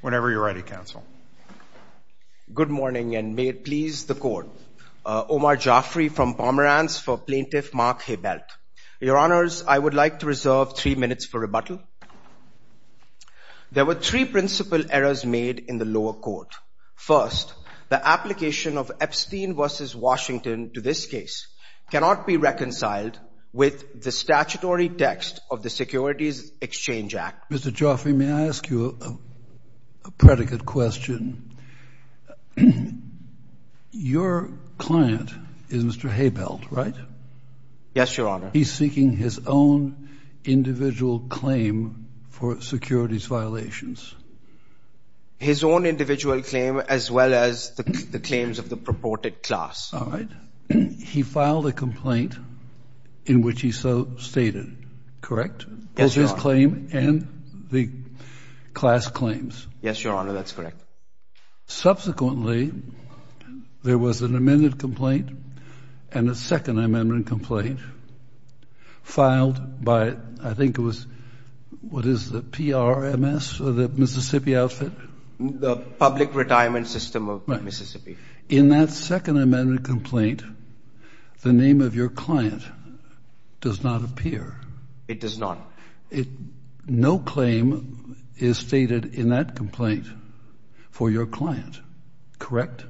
Whenever you're ready, Counsel. Good morning, and may it please the Court. Omar Jafri from Pomerance for Plaintiff Mark Habelt. Your Honors, I would like to reserve three minutes for rebuttal. There were three principal errors made in the lower court. First, the application of Epstein v. Washington to this case cannot be reconciled with the statutory text of the Securities Exchange Act. Mr. Jafri, may I ask you a predicate question? Your client is Mr. Habelt, right? Yes, Your Honor. He's seeking his own individual claim for securities violations? His own individual claim, as well as the claims of the purported class. All right. He filed a complaint in which he so stated, correct? Yes, Your Honor. His claim and the class claims? Yes, Your Honor. That's correct. Subsequently, there was an amended complaint and a second amended complaint filed by, I think it was, what is the PRMS, the Mississippi outfit? The Public Retirement System of Mississippi. In that second amended complaint, the name of your client does not appear. It does not. No claim is stated in that complaint for your client, correct?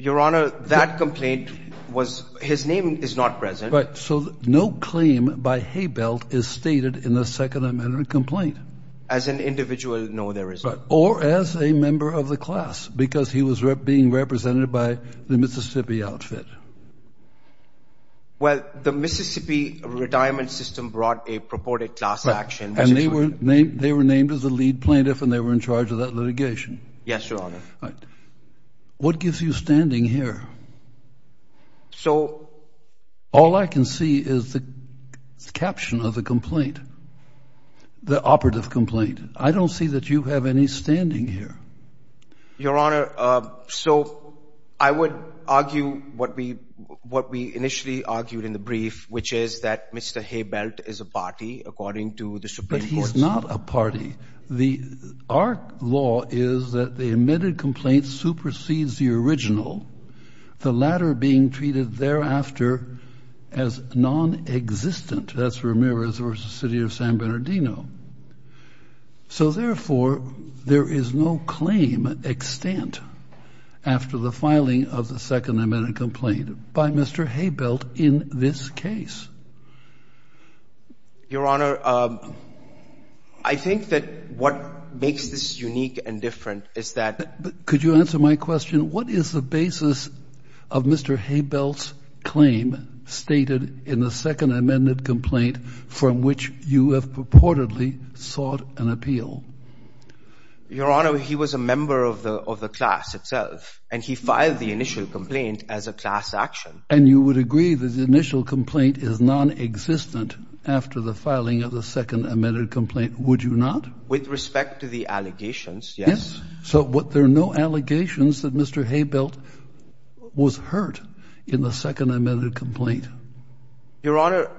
Your Honor, that complaint was, his name is not present. Right. So no claim by Habelt is stated in the second amended complaint. As an individual, no, there isn't. Or as a member of the class, because he was being represented by the Mississippi outfit. Well, the Mississippi Retirement System brought a purported class action. And they were named as the lead plaintiff and they were in charge of that litigation. Yes, Your Honor. What gives you standing here? So all I can see is the caption of the complaint, the operative complaint. I don't see that you have any standing here. Your Honor, so I would argue what we initially argued in the brief, which is that Mr. Habelt is a party, according to the Supreme Court. But he's not a party. Our law is that the amended complaint supersedes the original, the latter being treated thereafter as non-existent. That's Ramirez versus the city of San Bernardino. So therefore, there is no claim extant after the filing of the second amended complaint by Mr. Habelt in this case. Your Honor, I think that what makes this unique and different is that. Could you answer my question? What is the basis of Mr. Habelt's claim stated in the second amended complaint from which you have purportedly sought an appeal? Your Honor, he was a member of the class itself and he filed the initial complaint as a class action. And you would agree that the initial complaint is non-existent after the filing of the second amended complaint, would you not? With respect to the allegations, yes. So there are no allegations that Mr. Habelt was hurt in the second amended complaint? Your Honor,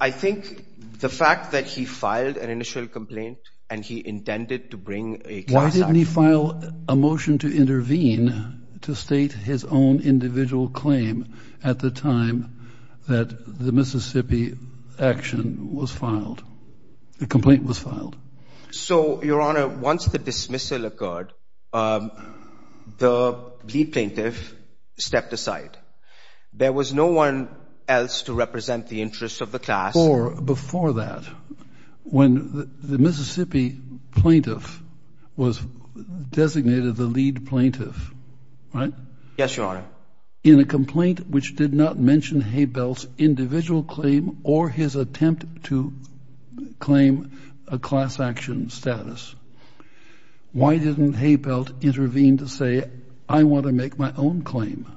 I think the fact that he filed an initial complaint and he intended to bring a class action. Why didn't he file a motion to intervene to state his own individual claim at the time that the Mississippi action was filed, the complaint was filed? So, Your Honor, once the dismissal occurred, the plea plaintiff stepped aside. There was no one else to represent the interests of the class. Or before that, when the Mississippi plaintiff was designated the lead plaintiff, right? Yes, Your Honor. In a complaint which did not mention Habelt's individual claim or his attempt to claim a class action status, why didn't Habelt intervene to say I want to make my own claim?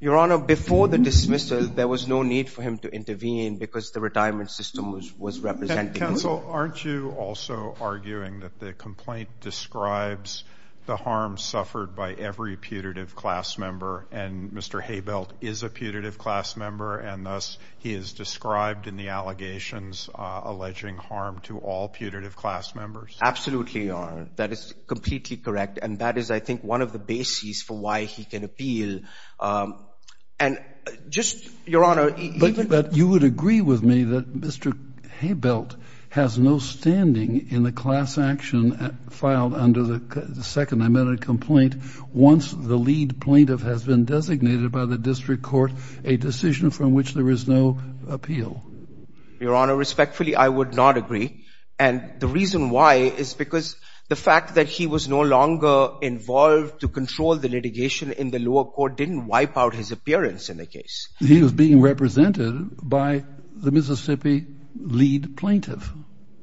Your Honor, before the dismissal, there was no need for him to intervene because the retirement system was representing him. Counsel, aren't you also arguing that the complaint describes the harm suffered by every putative class member and Mr. Habelt is a putative class member and thus he is described in the allegations alleging harm to all putative class members? Absolutely, Your Honor. That is completely correct. And that is, I think, one of the bases for why he can appeal. And just, Your Honor, even But you would agree with me that Mr. Habelt has no standing in the class action filed under the second amendment complaint once the lead plaintiff has been designated by the district court a decision from which there is no appeal? Your Honor, respectfully, I would not agree. And the reason why is because the fact that he was no longer involved to control the litigation in the lower court didn't wipe out his appearance in the case. He was being represented by the Mississippi lead plaintiff.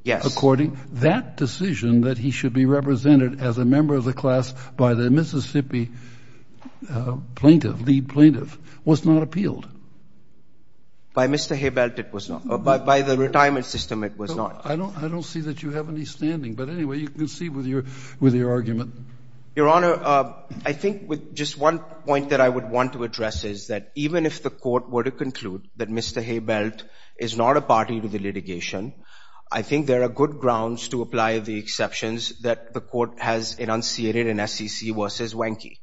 Yes. According, that decision that he should be represented as a member of the class by the Mississippi plaintiff, lead plaintiff, was not appealed. By Mr. Habelt, it was not. By the retirement system, it was not. I don't I don't see that you have any standing. But anyway, you can see with your with your argument. Your Honor, I think with just one point that I would want to address is that even if the court were to conclude that Mr. Habelt is not a party to the litigation, I think there are good grounds to apply the exceptions that the court has enunciated in SEC versus Wenke.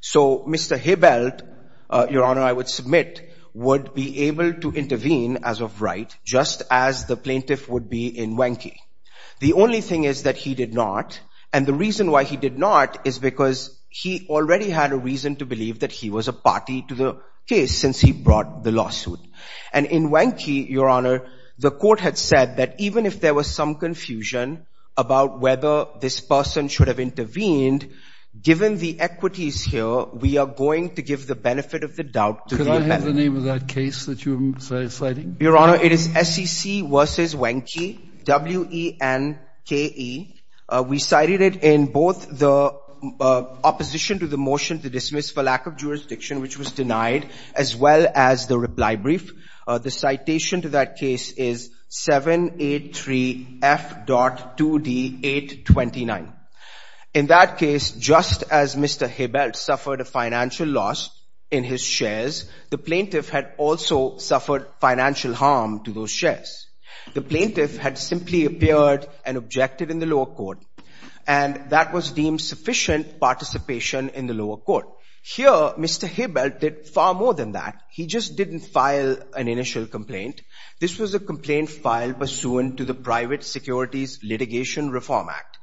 So Mr. Habelt, Your Honor, I would submit would be able to intervene as of right, just as the plaintiff would be in Wenke. The only thing is that he did not. And the reason why he did not is because he already had a reason to believe that he was a party to the case since he brought the lawsuit. And in Wenke, Your Honor, the court had said that even if there was some confusion about whether this person should have intervened, given the equities here, we are going to give the benefit of the doubt to the abettor. Could I have the name of that case that you are citing? Your Honor, it is SEC versus Wenke, W-E-N-K-E. We cited it in both the opposition to the motion to dismiss for lack of jurisdiction, which was denied, as well as the reply brief. The citation to that case is 783 F.2D 829. In that case, just as Mr. Habelt suffered a financial loss in his shares, the plaintiff had also suffered financial harm to those shares. The plaintiff had simply appeared and objected in the lower court, and that was deemed sufficient participation in the lower court. Here, Mr. Habelt did far more than that. He just didn't file an initial complaint. This was a complaint filed pursuant to the Private Securities Litigation Reform Act.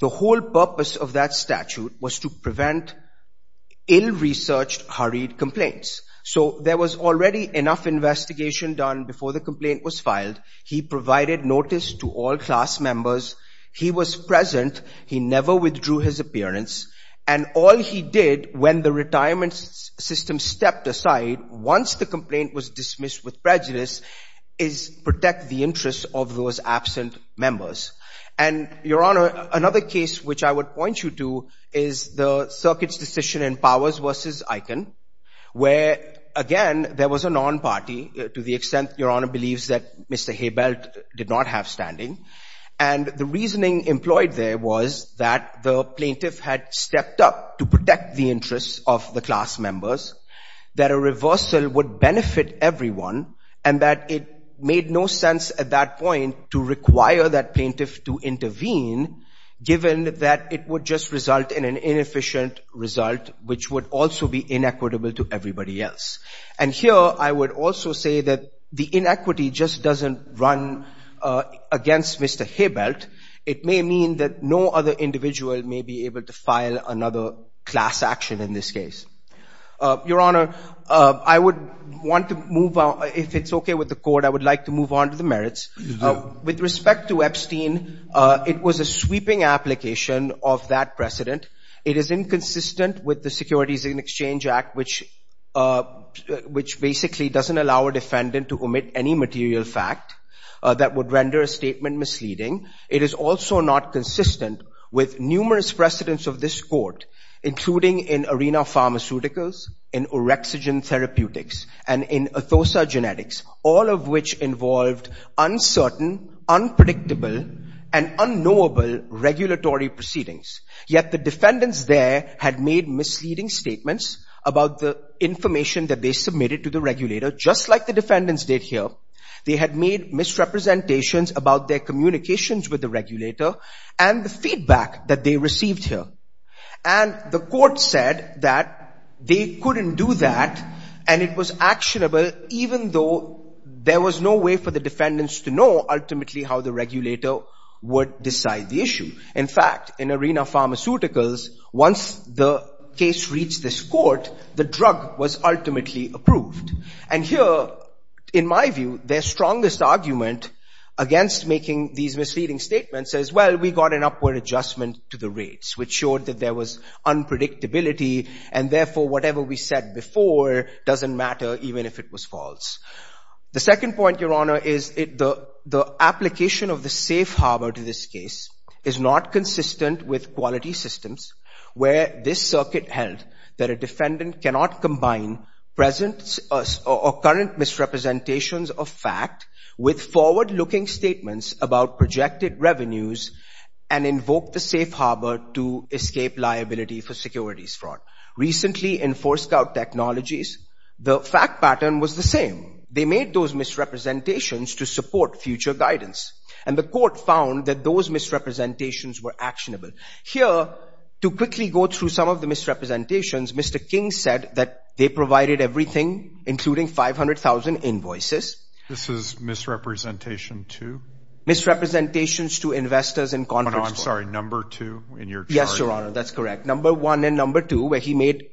The whole purpose of that statute was to prevent ill-researched, hurried complaints. So there was already enough investigation done before the complaint was filed. He provided notice to all class members. He was present. He never withdrew his appearance. And all he did when the retirement system stepped aside, once the complaint was dismissed with prejudice, is protect the interests of those absent members. And, Your Honor, another case which I would point you to is the circuit's decision in Powers v. Eichen, where, again, there was a non-party, to the extent, Your Honor, believes that Mr. Habelt did not have standing. And the reasoning employed there was that the plaintiff had stepped up to protect the interests of the class members, that a reversal would benefit everyone, and that it made no sense at that point to require that plaintiff to intervene, given that it would just result in an inefficient result, which would also be inequitable to everybody else. And here, I would also say that the inequity just doesn't run against Mr. Habelt. It may mean that no other individual may be able to file another class action in this case. Your Honor, I would want to move on. If it's OK with the court, I would like to move on to the merits. With respect to Epstein, it was a sweeping application of that precedent. It is inconsistent with the Securities and Exchange Act, which basically doesn't allow a defendant to omit any material fact that would render a statement misleading. It is also not consistent with numerous precedents of this court, including in arena pharmaceuticals, in orexigen therapeutics, and in ethosogenetics, all of which involved uncertain, unpredictable, and unknowable regulatory proceedings. Yet the defendants there had made misleading statements about the information that they submitted to the regulator, just like the defendants did here. They had made misrepresentations about their communications with the regulator and the feedback that they received here. And the court said that they couldn't do that. And it was actionable, even though there was no way for the defendants to know ultimately how the regulator would decide the issue. In fact, in arena pharmaceuticals, once the case reached this court, the drug was ultimately approved. And here, in my view, their strongest argument against making these misleading statements is, well, we got an upward adjustment to the rates, which showed that there was unpredictability. And therefore, whatever we said before doesn't matter, even if it was false. The second point, Your Honor, is the application of the safe harbor to this case is not consistent with quality systems where this circuit held that a defendant cannot combine present or current misrepresentations of fact with forward-looking statements about projected revenues and invoke the safe harbor to escape liability for securities fraud. Recently, in Forescout Technologies, the fact pattern was the same. They made those misrepresentations to support future guidance. And the court found that those misrepresentations were actionable. Here, to quickly go through some of the misrepresentations, Mr. King said that they provided everything, including 500,000 invoices. This is misrepresentation to? Misrepresentations to investors in Congress. I'm sorry, number two in your. Yes, Your Honor. That's correct. Number one and number two, where he made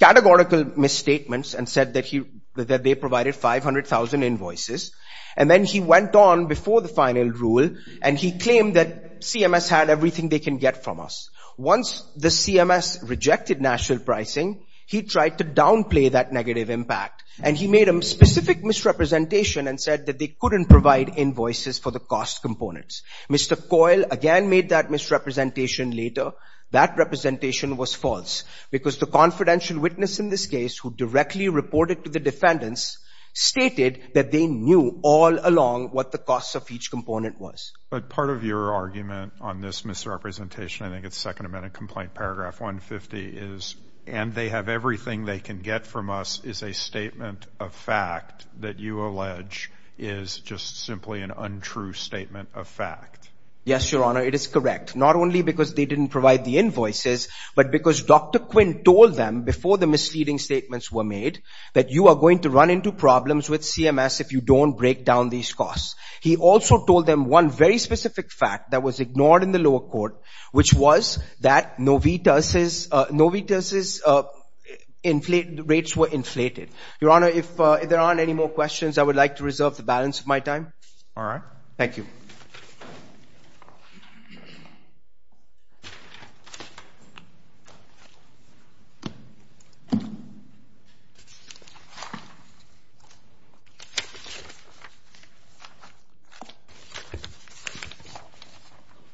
categorical misstatements and said that he that they provided 500,000 invoices. And then he went on before the final rule and he claimed that CMS had everything they can get from us. Once the CMS rejected national pricing, he tried to downplay that negative impact. And he made a specific misrepresentation and said that they couldn't provide invoices for the cost components. Mr. Coyle again made that misrepresentation later. That representation was false because the confidential witness in this case who directly reported to the defendants stated that they knew all along what the cost of each component was. But part of your argument on this misrepresentation, I think it's second amendment complaint. Paragraph 150 is and they have everything they can get from us is a statement of fact that you allege is just simply an untrue statement of fact. Yes, Your Honor. It is correct. Not only because they didn't provide the invoices, but because Dr. Quinn told them before the misleading statements were made that you are going to run into problems with CMS if you don't break down these costs. He also told them one very specific fact that was ignored in the lower court, which was that Novita's rates were inflated. Your Honor, if there aren't any more questions, I would like to reserve the balance of my time. All right. Thank you.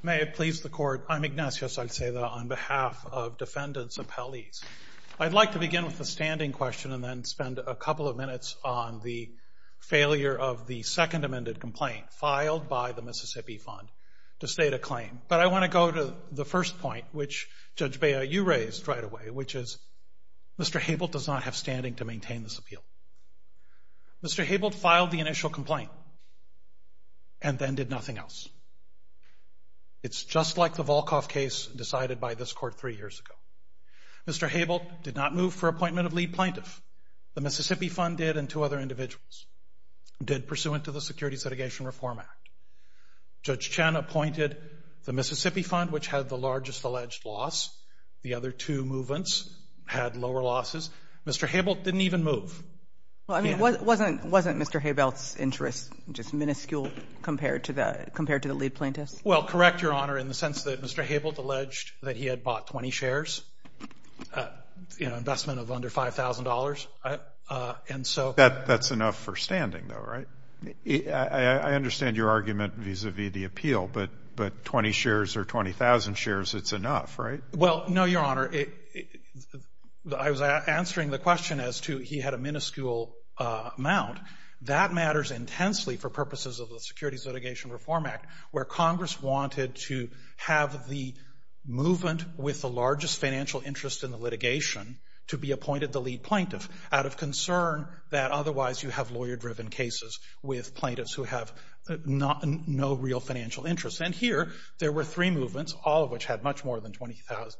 May it please the court. I'm Ignacio Salceda on behalf of defendants appellees. I'd like to begin with a standing question and then spend a couple of minutes on the failure of the second amended complaint filed by the Mississippi Fund to state a claim. But I want to go to the first point, which Judge Bea, you raised right away, which is Mr. Habel does not have standing to maintain this appeal. Mr. Habel filed the initial complaint. And then did nothing else. It's just like the Volkoff case decided by this court three years ago. Mr. Habel did not move for appointment of lead plaintiff. The Mississippi Fund did and two other individuals did pursuant to the Security Sedigation Reform Act. Judge Chen appointed the Mississippi Fund, which had the largest alleged loss. The other two movements had lower losses. Mr. Habel didn't even move. Well, I mean, wasn't wasn't Mr. Habel's interest just minuscule compared to the compared to the lead plaintiffs? Well, correct, Your Honor, in the sense that Mr. Habel alleged that he had bought 20 shares, you know, investment of under $5,000. And so that that's enough for standing, though, right? I understand your argument vis-a-vis the appeal, but but 20 shares or 20,000 shares, it's enough, right? Well, no, Your Honor, I was answering the question as to he had a minuscule amount that matters intensely for purposes of the Securities Litigation Reform Act, where Congress wanted to have the movement with the largest financial interest in the litigation to be appointed the lead plaintiff out of concern that otherwise you have lawyer driven cases with plaintiffs who have not no real financial interest. And here there were three movements, all of which had much more than 20,000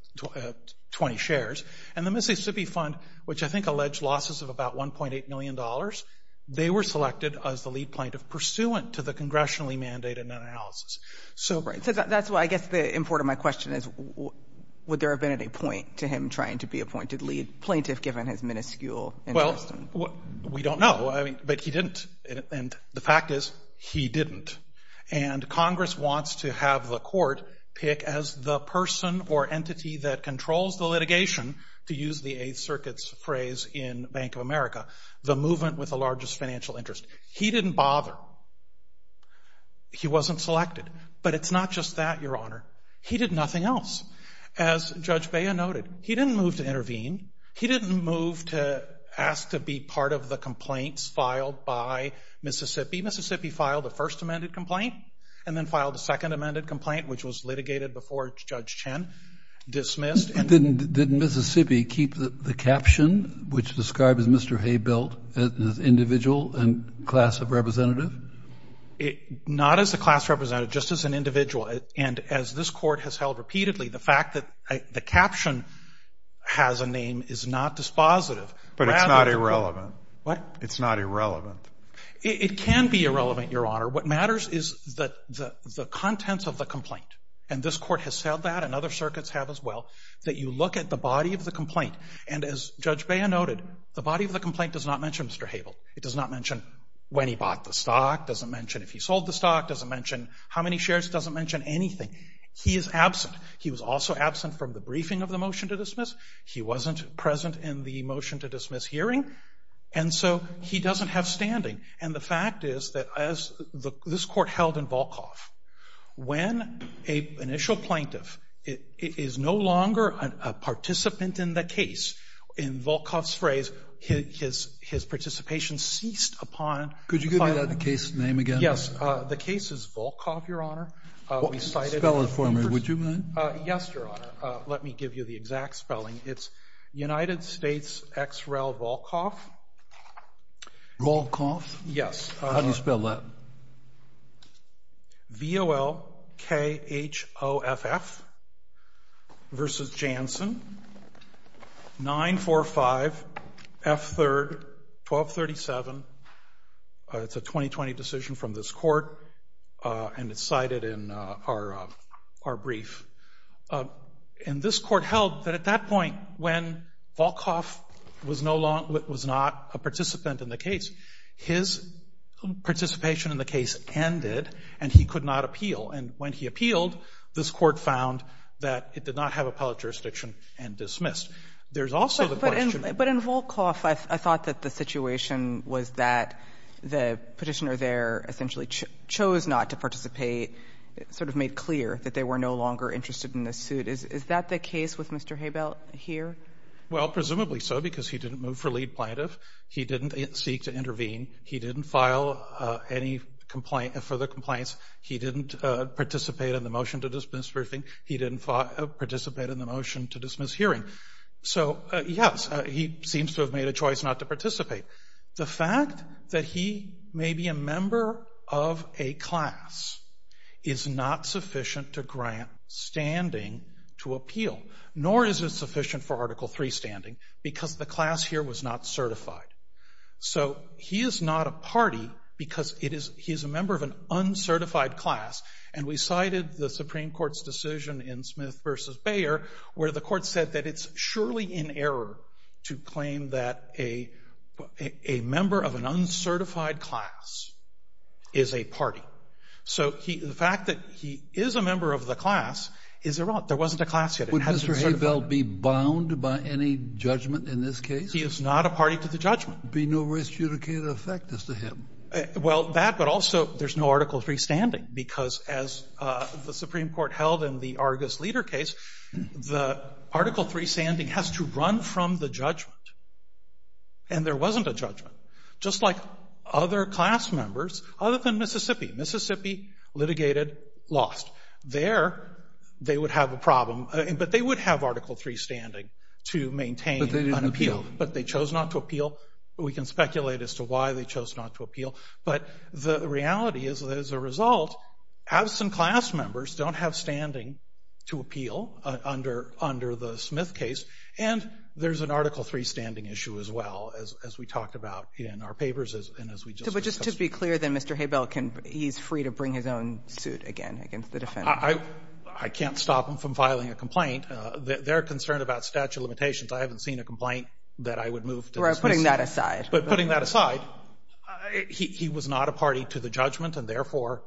20 shares. And the Mississippi Fund, which I think alleged losses of about one point eight million dollars. They were selected as the lead plaintiff pursuant to the congressionally mandated analysis. So that's why I guess the import of my question is, would there have been any point to him trying to be appointed lead plaintiff given his minuscule? Well, we don't know. I mean, but he didn't. And the fact is, he didn't. And Congress wants to have the court pick as the person or entity that controls the litigation, to use the Eighth Circuit's phrase in Bank of America, the movement with the largest financial interest. He didn't bother. He wasn't selected, but it's not just that, Your Honor. As Judge Baya noted, he didn't move to intervene. He didn't move to ask to be part of the complaints filed by Mississippi. Mississippi filed the first amended complaint and then filed a second amended complaint, which was litigated before Judge Chen dismissed. And then didn't Mississippi keep the caption, which described as Mr. Hay built as individual and class of representative? It not as a class representative, just as an individual. And as this court has held repeatedly, the fact that the caption has a name is not dispositive. But it's not irrelevant. What? It's not irrelevant. It can be irrelevant, Your Honor. What matters is that the contents of the complaint and this court has said that and other circuits have as well, that you look at the body of the complaint. And as Judge Baya noted, the body of the complaint does not mention Mr. Havel. It does not mention when he bought the stock, doesn't mention if he sold the stock, doesn't mention how many shares, doesn't mention anything. He is absent. He was also absent from the briefing of the motion to dismiss. He wasn't present in the motion to dismiss hearing. And so he doesn't have standing. And the fact is that as this court held in Volkoff, when a initial plaintiff is no longer a participant in the case in Volkoff's phrase, his his participation ceased upon. Could you give me the case name again? Yes. The case is Volkoff, Your Honor. We cited a spelling for me. Would you mind? Yes, Your Honor. Let me give you the exact spelling. It's United States Xrel Volkoff. Volkoff? Yes. How do you spell that? V-O-L-K-H-O-F-F. Versus Janssen. 9-4-5-F-3-12-37. It's a 2020 decision from this court and it's cited in our our brief. And this court held that at that point, when Volkoff was no longer was not a participant in the case, his participation in the case ended and he could not appeal. And when he appealed, this court found that it did not have appellate jurisdiction and dismissed. There's also the question. But in Volkoff, I thought that the situation was that the petitioner there essentially chose not to participate. Sort of made clear that they were no longer interested in this suit. Is that the case with Mr. Hebel here? Well, presumably so, because he didn't move for lead plaintiff. He didn't seek to intervene. He didn't file any complaint for the complaints. He didn't participate in the motion to dismiss briefing. He didn't participate in the motion to dismiss hearing. So, yes, he seems to have made a choice not to participate. The fact that he may be a member of a class is not sufficient to grant standing to appeal, nor is it sufficient for Article three standing because the class here was not certified. So he is not a party because it is. He is a member of an uncertified class. And we cited the Supreme Court's decision in Smith versus Bayer where the court said that it's surely in error to claim that a member of an uncertified class is a party. So the fact that he is a member of the class is there wasn't a class yet. Would Mr. Hebel be bound by any judgment in this case? He is not a party to the judgment. Be no risk to the effect as to him. Well, that but also there's no Article three standing, because as the Supreme Court held in the Argus leader case, the Article three standing has to run from the judgment. And there wasn't a judgment, just like other class members, other than Mississippi. Mississippi litigated lost there. They would have a problem, but they would have Article three standing to maintain an appeal. But they chose not to appeal. We can speculate as to why they chose not to appeal. But the reality is that as a result, absent class members don't have standing to appeal under the Smith case. And there's an Article three standing issue as well, as we talked about in our papers and as we just discussed. But just to be clear, then, Mr. Hebel, can he's free to bring his own suit again against the defense? I can't stop him from filing a complaint. They're concerned about statute of limitations. I haven't seen a complaint that I would move to. We're putting that aside. But putting that aside, he was not a party to the judgment and therefore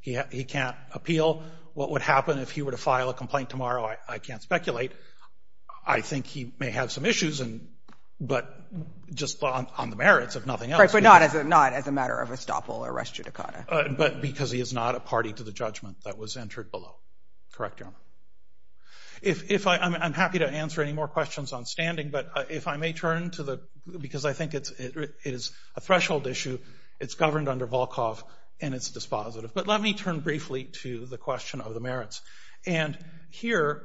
he can't appeal. What would happen if he were to file a complaint tomorrow? I can't speculate. I think he may have some issues and but just on the merits of nothing else. But not as a not as a matter of estoppel or res judicata. But because he is not a party to the judgment that was entered below. Correct, Your Honor. If I'm happy to answer any more questions on standing, but if I may turn to the because I think it is a threshold issue, it's governed under Volkov and it's dispositive. But let me turn briefly to the question of the merits. And here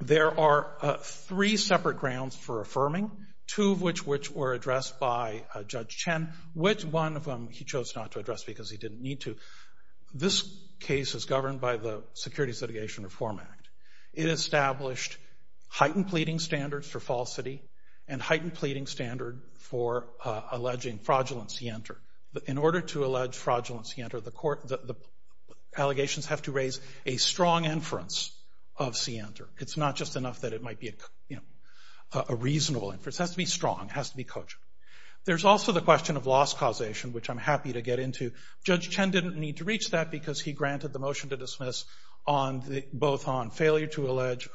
there are three separate grounds for affirming, two of which which were addressed by Judge Chen, which one of them he chose not to address because he didn't need to. This case is governed by the Securities Litigation Reform Act. It established heightened pleading standards for falsity and heightened pleading standard for alleging fraudulence. He entered in order to allege fraudulence. The allegations have to raise a strong inference of Center. It's not just enough that it might be, you know, a reasonable inference. Has to be strong, has to be coach. There's also the question of loss causation, which I'm happy to get into. Judge Chen didn't need to reach that because he granted the motion to dismiss on both on failure to allege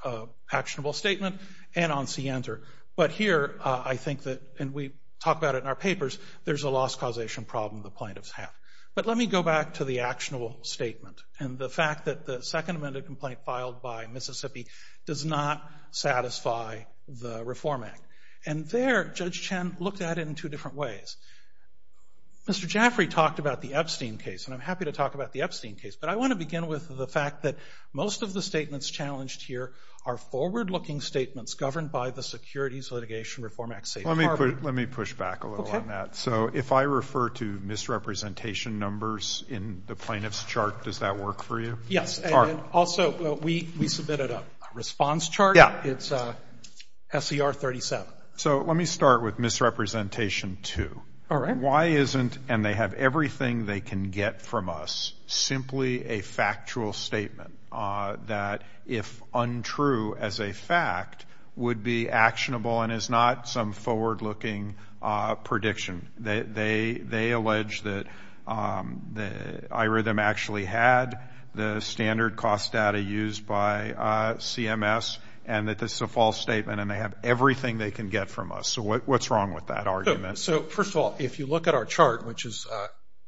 actionable statement and on Center. But here I think that and we talk about it in our papers. There's a loss causation problem the plaintiffs have. But let me go back to the actionable statement and the fact that the second amended complaint filed by Mississippi does not satisfy the Reform Act. And there Judge Chen looked at it in two different ways. Mr. Jaffrey talked about the Epstein case and I'm happy to talk about the Epstein case. But I want to begin with the fact that most of the statements challenged here are forward looking statements governed by the Securities Litigation Reform Act. Let me push back a little on that. So if I refer to misrepresentation numbers in the plaintiff's chart, does that work for you? Yes. And also we submitted a response chart. Yeah. It's SCR 37. So let me start with misrepresentation two. All right. Why isn't, and they have everything they can get from us, simply a factual statement that if untrue as a fact would be actionable and is not some forward looking prediction. They allege that iRhythm actually had the standard cost data used by CMS and that this is a false statement and they have everything they can get from us. So what's wrong with that argument? So first of all, if you look at our chart, which is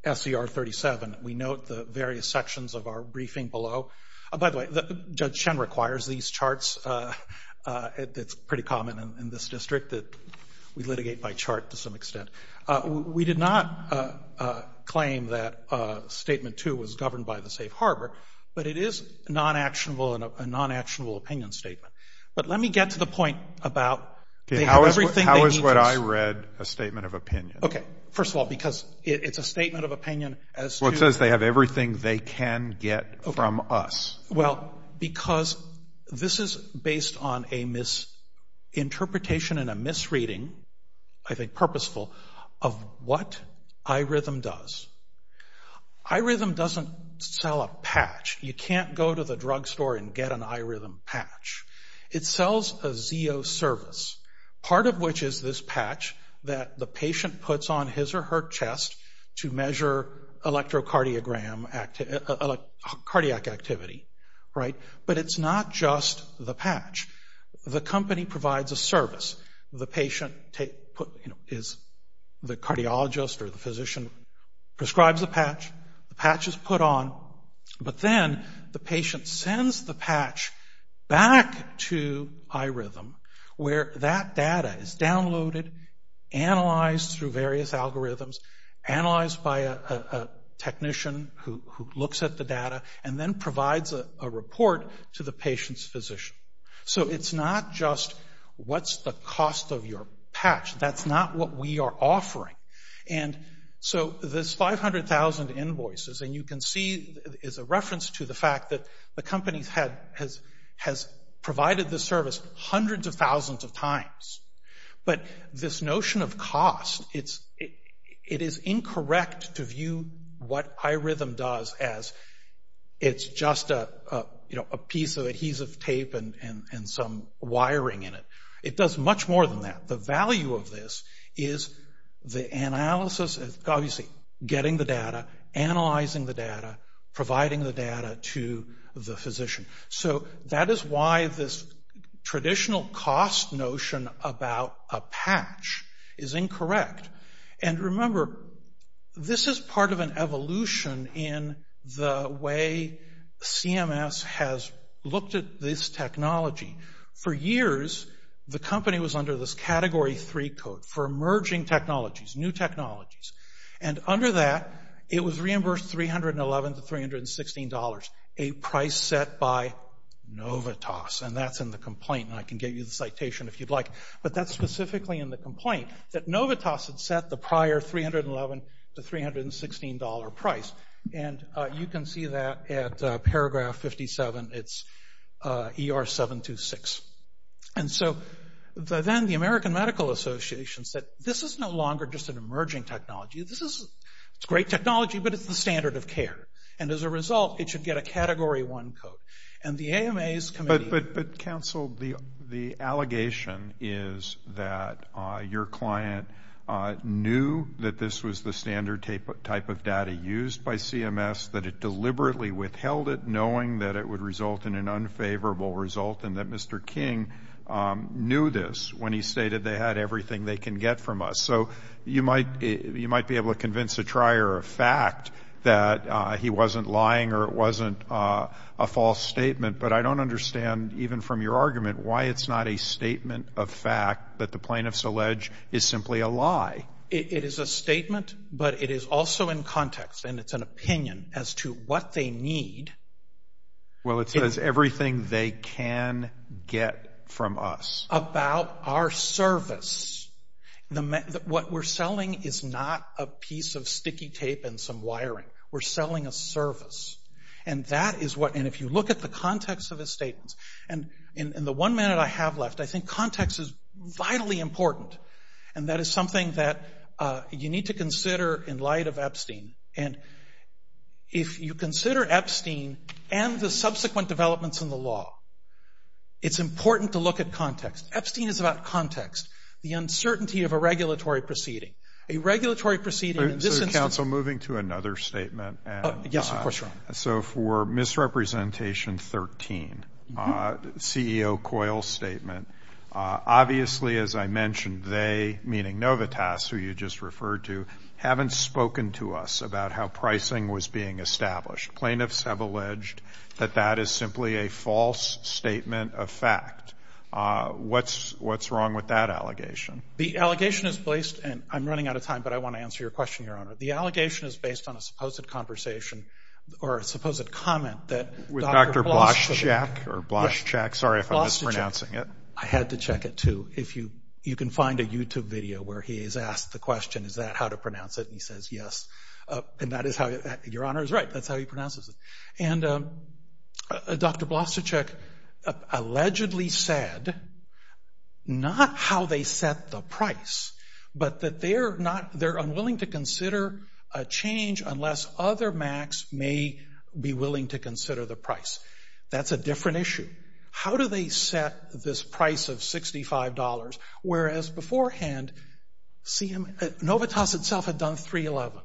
SCR 37, we note the various sections of our briefing below. By the way, Judge Shen requires these charts. It's pretty common in this district that we litigate by chart to some extent. We did not claim that statement two was governed by the safe harbor, but it is non-actionable and a non-actionable opinion statement. But let me get to the point about how is what I read a statement of opinion? Okay. First of all, because it's a statement of opinion as to. It says they have everything they can get from us. Well, because this is based on a misinterpretation and a misreading, I think purposeful, of what iRhythm does. iRhythm doesn't sell a patch. You can't go to the drugstore and get an iRhythm patch. It sells a ZEO service, part of which is this patch that the patient puts on his or her chest to measure electrocardiogram, cardiac activity, right? But it's not just the patch. The company provides a service. The patient is the cardiologist or the physician prescribes the patch, the patch is put on, but then the patient sends the patch back to iRhythm where that data is downloaded, analyzed through various algorithms, analyzed by a technician who looks at the data, and then provides a report to the patient's physician. So it's not just what's the cost of your patch. That's not what we are offering. And so this 500,000 invoices, and you can see is a reference to the fact that the company has provided this service hundreds of thousands of times. But this notion of cost, it is incorrect to view what iRhythm does as it's just a piece of adhesive tape and some wiring in it. It does much more than that. The value of this is the analysis, obviously getting the data, analyzing the data, providing the data to the physician. So that is why this traditional cost notion about a patch is incorrect. And remember, this is part of an evolution in the way CMS has looked at this technology. For years, the company was under this Category 3 code for emerging technologies, new technologies. And under that, it was reimbursed $311 to $316, a price set by Novitas. And that's in the complaint, and I can give you the citation if you'd like. But that's specifically in the complaint that Novitas had set the prior $311 to $316 price. And you can see that at paragraph 57, it's ER726. And so then the American Medical Association said, this is no longer just an emerging technology. This is, it's great technology, but it's the standard of care. And as a result, it should get a Category 1 code. And the AMA's committee. But counsel, the allegation is that your client knew that this was the standard type of data used by CMS, that it deliberately withheld it knowing that it would result in an unfavorable result and that Mr. King knew this when he stated they had everything they can get from us. So you might, you might be able to convince a trier of fact that he wasn't lying or it wasn't a false statement, but I don't understand, even from your argument, why it's not a statement of fact that the plaintiff's allege is simply a lie. It is a statement, but it is also in context. And it's an opinion as to what they need. Well, it says everything they can get from us. About our service. The, what we're selling is not a piece of sticky tape and some wiring. We're selling a service. And that is what, and if you look at the context of his statements, and in the one minute I have left, I think context is vitally important. And if you consider Epstein and the subsequent developments in the law, it's important to look at context. Epstein is about context. The uncertainty of a regulatory proceeding. A regulatory proceeding in this instance. So, counsel, moving to another statement. Yes, of course, Ron. So for misrepresentation 13, CEO Coyle's statement, obviously, as I mentioned, they, meaning Novotaz, who you just referred to, haven't spoken to us about how pricing was being established. Plaintiffs have alleged that that is simply a false statement of fact. What's wrong with that allegation? The allegation is placed, and I'm running out of time, but I want to answer your question, Your Honor. The allegation is based on a supposed conversation, or a supposed comment that Dr. Blaschczyk. Dr. Blaschczyk, or Blaschczyk, sorry if I'm mispronouncing it. I had to check it, too. If you, you can find a YouTube video where he is asked the question, is that how to pronounce it? And he says, yes, and that is how, Your Honor is right, that's how he pronounces it. And Dr. Blaschczyk allegedly said not how they set the price, but that they're not, they're unwilling to consider a change unless other MACs may be willing to consider the price. That's a different issue. How do they set this price of $65, whereas beforehand, Novotaz itself had done $311.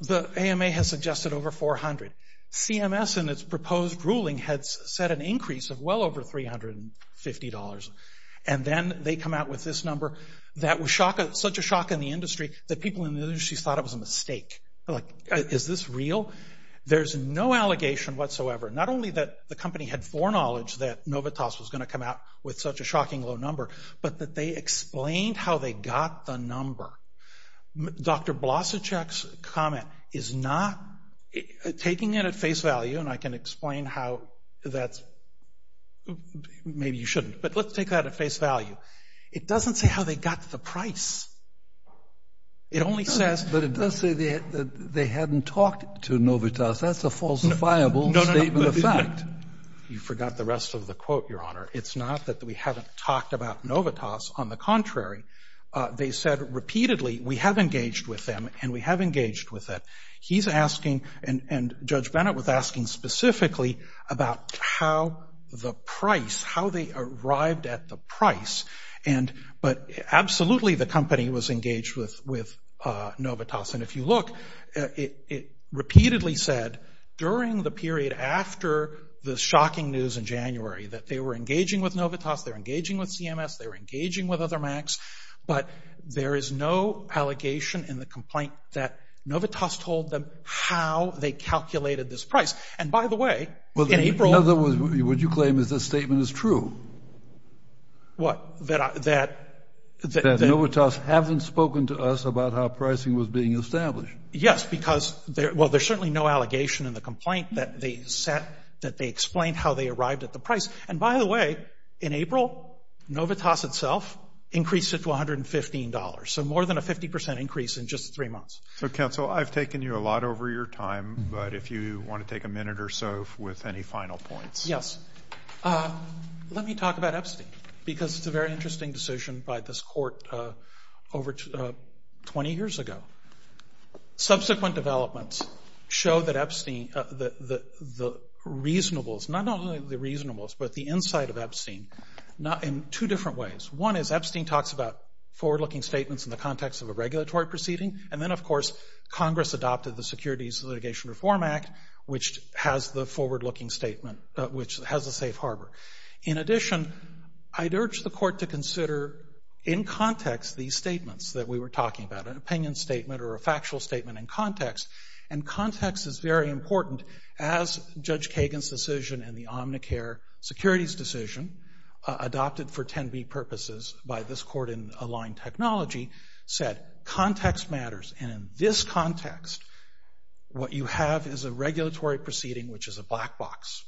The AMA has suggested over $400. CMS in its proposed ruling had set an increase of well over $350, and then they come out with this number that was such a shock in the industry that people in the industry thought it was a mistake. Like, is this real? There's no allegation whatsoever. Not only that the company had foreknowledge that Novotaz was going to come out with such a shocking low number, but that they explained how they got the number. Dr. Blaschczyk's comment is not, taking it at face value, and I can explain how that's, maybe you shouldn't, but let's take that at face value. It doesn't say how they got the price. It only says. But it does say that they hadn't talked to Novotaz. That's a falsifiable statement of fact. You forgot the rest of the quote, Your Honor. It's not that we haven't talked about Novotaz. On the contrary, they said repeatedly, we have engaged with them, and we have engaged with it. He's asking, and Judge Bennett was asking specifically about how the price, how they arrived at the price, but absolutely the company was engaged with Novotaz. And if you look, it repeatedly said during the period after the shocking news in January that they were engaging with Novotaz, they were engaging with CMS, they were engaging with other MACs, but there is no allegation in the complaint that Novotaz told them how they calculated this price. And by the way, in April. In other words, would you claim that this statement is true? What? That I, that. That Novotaz haven't spoken to us about how pricing was being established. Yes, because, well, there's certainly no allegation in the complaint that they set, that they explained how they arrived at the price. And by the way, in April, Novotaz itself increased it to $115. So more than a 50% increase in just three months. So, counsel, I've taken you a lot over your time, but if you want to take a minute or so with any final points. Yes. Let me talk about Epstein, because it's a very interesting decision by this court over 20 years ago. Subsequent developments show that Epstein, the reasonableness, not only the reasonableness, but the insight of Epstein, in two different ways. One is Epstein talks about forward-looking statements in the context of a regulatory proceeding. And then, of course, Congress adopted the Securities Litigation Reform Act, which has the forward-looking statement, which has a safe harbor. In addition, I'd urge the court to consider, in context, these statements that we were talking about, an opinion statement or a factual statement in context. And context is very important, as Judge Kagan's decision and the Omnicare securities decision, adopted for 10B purposes by this court in aligned technology, said context matters. And in this context, what you have is a regulatory proceeding, which is a black box.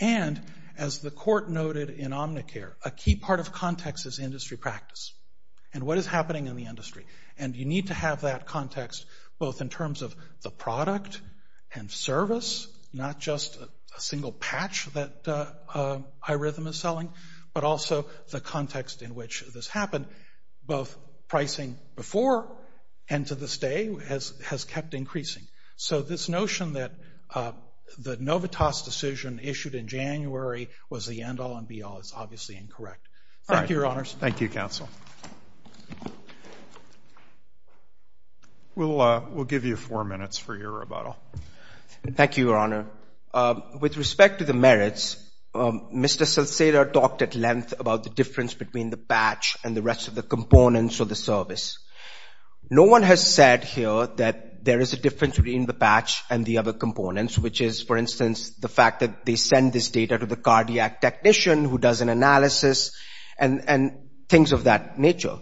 And, as the court noted in Omnicare, a key part of context is industry practice and what is happening in the industry. And you need to have that context, both in terms of the product and service, not just a single patch that iRhythm is selling, but also the context in which this happened, both pricing before and to this day, has kept increasing. So this notion that the Novotaz decision issued in January was the end-all and be-all is obviously incorrect. Thank you, Your Honors. Thank you, Counsel. We'll give you four minutes for your rebuttal. Thank you, Your Honor. With respect to the merits, Mr. Salcedo talked at length about the difference between the patch and the rest of the components of the service. No one has said here that there is a difference between the patch and the other components, which is, for instance, the fact that they send this data to the cardiac technician who does an analysis and things of that nature.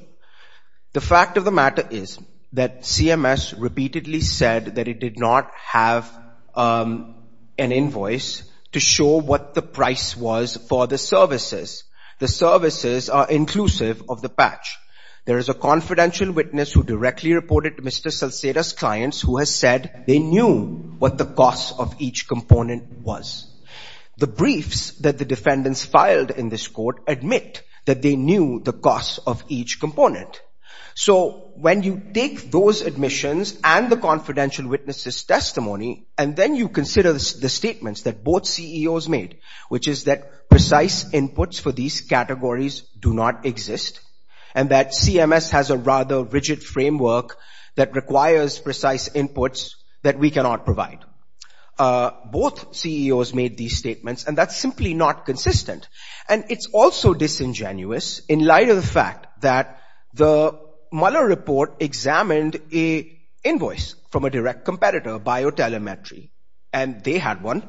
The fact of the matter is that CMS repeatedly said that it did not have an invoice to show what the price was for the services. The services are inclusive of the patch. There is a confidential witness who directly reported to Mr. Salcedo's clients who has said they knew what the cost of each component was. The briefs that the defendants filed in this court admit that they knew the cost of each component. So when you take those admissions and the confidential witnesses' testimony, and then you consider the statements that both CEOs made, which is that precise inputs for these categories do not exist, and that CMS has a rather rigid framework that requires precise inputs that we cannot provide. Both CEOs made these statements, and that's simply not consistent. And it's also disingenuous in light of the fact that the Mueller report examined an invoice from a direct competitor, Biotelemetry, and they had one.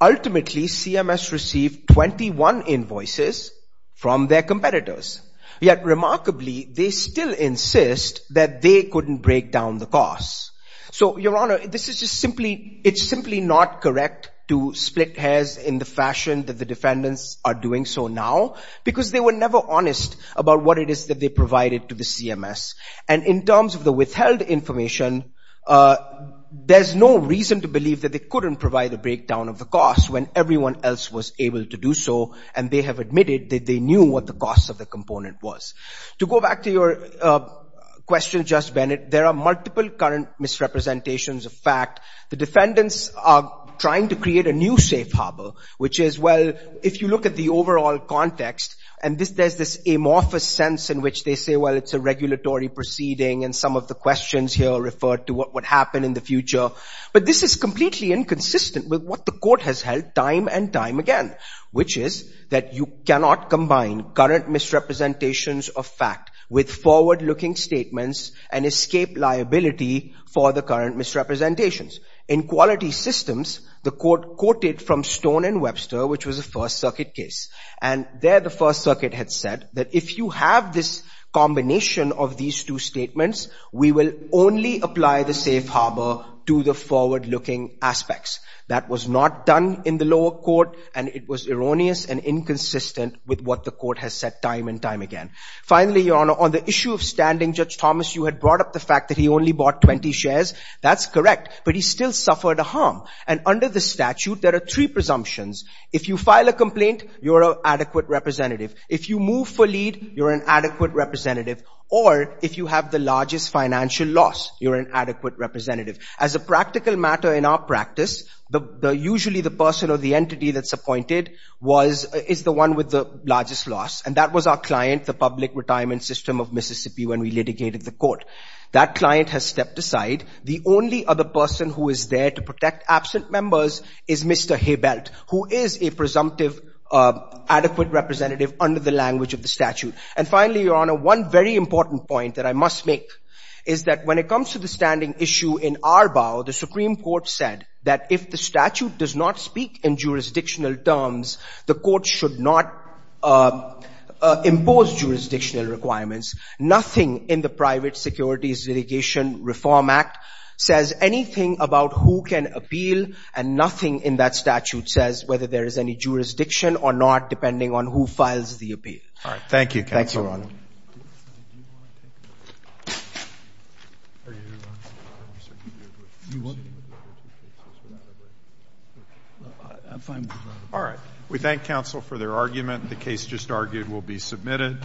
Ultimately, CMS received 21 invoices from their competitors. Yet remarkably, they still insist that they couldn't break down the cost. So, Your Honor, this is just simply, it's simply not correct to split hairs in the fashion that the defendants are doing so now, because they were never honest about what it is that they provided to the CMS. And in terms of the withheld information, there's no reason to believe that they couldn't provide a breakdown of the cost when everyone else was able to do so, and they have admitted that they knew what the cost of the component was. To go back to your question, Justice Bennett, there are multiple current misrepresentations of fact. The defendants are trying to create a new safe harbor, which is, well, if you look at the overall context, and there's this amorphous sense in which they say, well, it's a regulatory proceeding, and some of the questions here refer to what would happen in the future, but this is completely inconsistent with what the court has held time and time again, which is that you cannot combine current misrepresentations of fact with forward-looking statements and escape liability for the current misrepresentations. In quality systems, the court quoted from Stone and Webster, which was a First Circuit case, and there the First Circuit had said that if you have this combination of these two statements, we will only apply the safe harbor to the forward-looking aspects. That was not done in the lower court, and it was erroneous and inconsistent with what the court has said time and time again. Finally, Your Honor, on the issue of standing, Judge Thomas, you had brought up the fact that he only bought 20 shares. That's correct, but he still suffered a harm, and under the statute, there are three presumptions. If you file a complaint, you're an adequate representative. If you move for lead, you're an adequate representative. Or if you have the largest financial loss, you're an adequate representative. As a practical matter in our practice, usually the person or the entity that's appointed is the one with the largest loss, and that was our client, the public retirement system of Mississippi when we litigated the court. That client has stepped aside. The only other person who is there to protect absent members is Mr. Haybelt, who is a presumptive adequate representative under the language of the statute. And finally, Your Honor, one very important point that I must make is that when it comes to the standing issue in Arbaugh, the Supreme Court said that if the statute does not speak in jurisdictional terms, the court should not impose jurisdictional requirements. Nothing in the Private Securities Litigation Reform Act says anything about who can appeal, and nothing in that statute says whether there is any jurisdiction or not depending on who files the appeal. All right. Thank you, Counsel. Thank you, Your Honor. All right. We thank counsel for their argument. The case just argued will be submitted.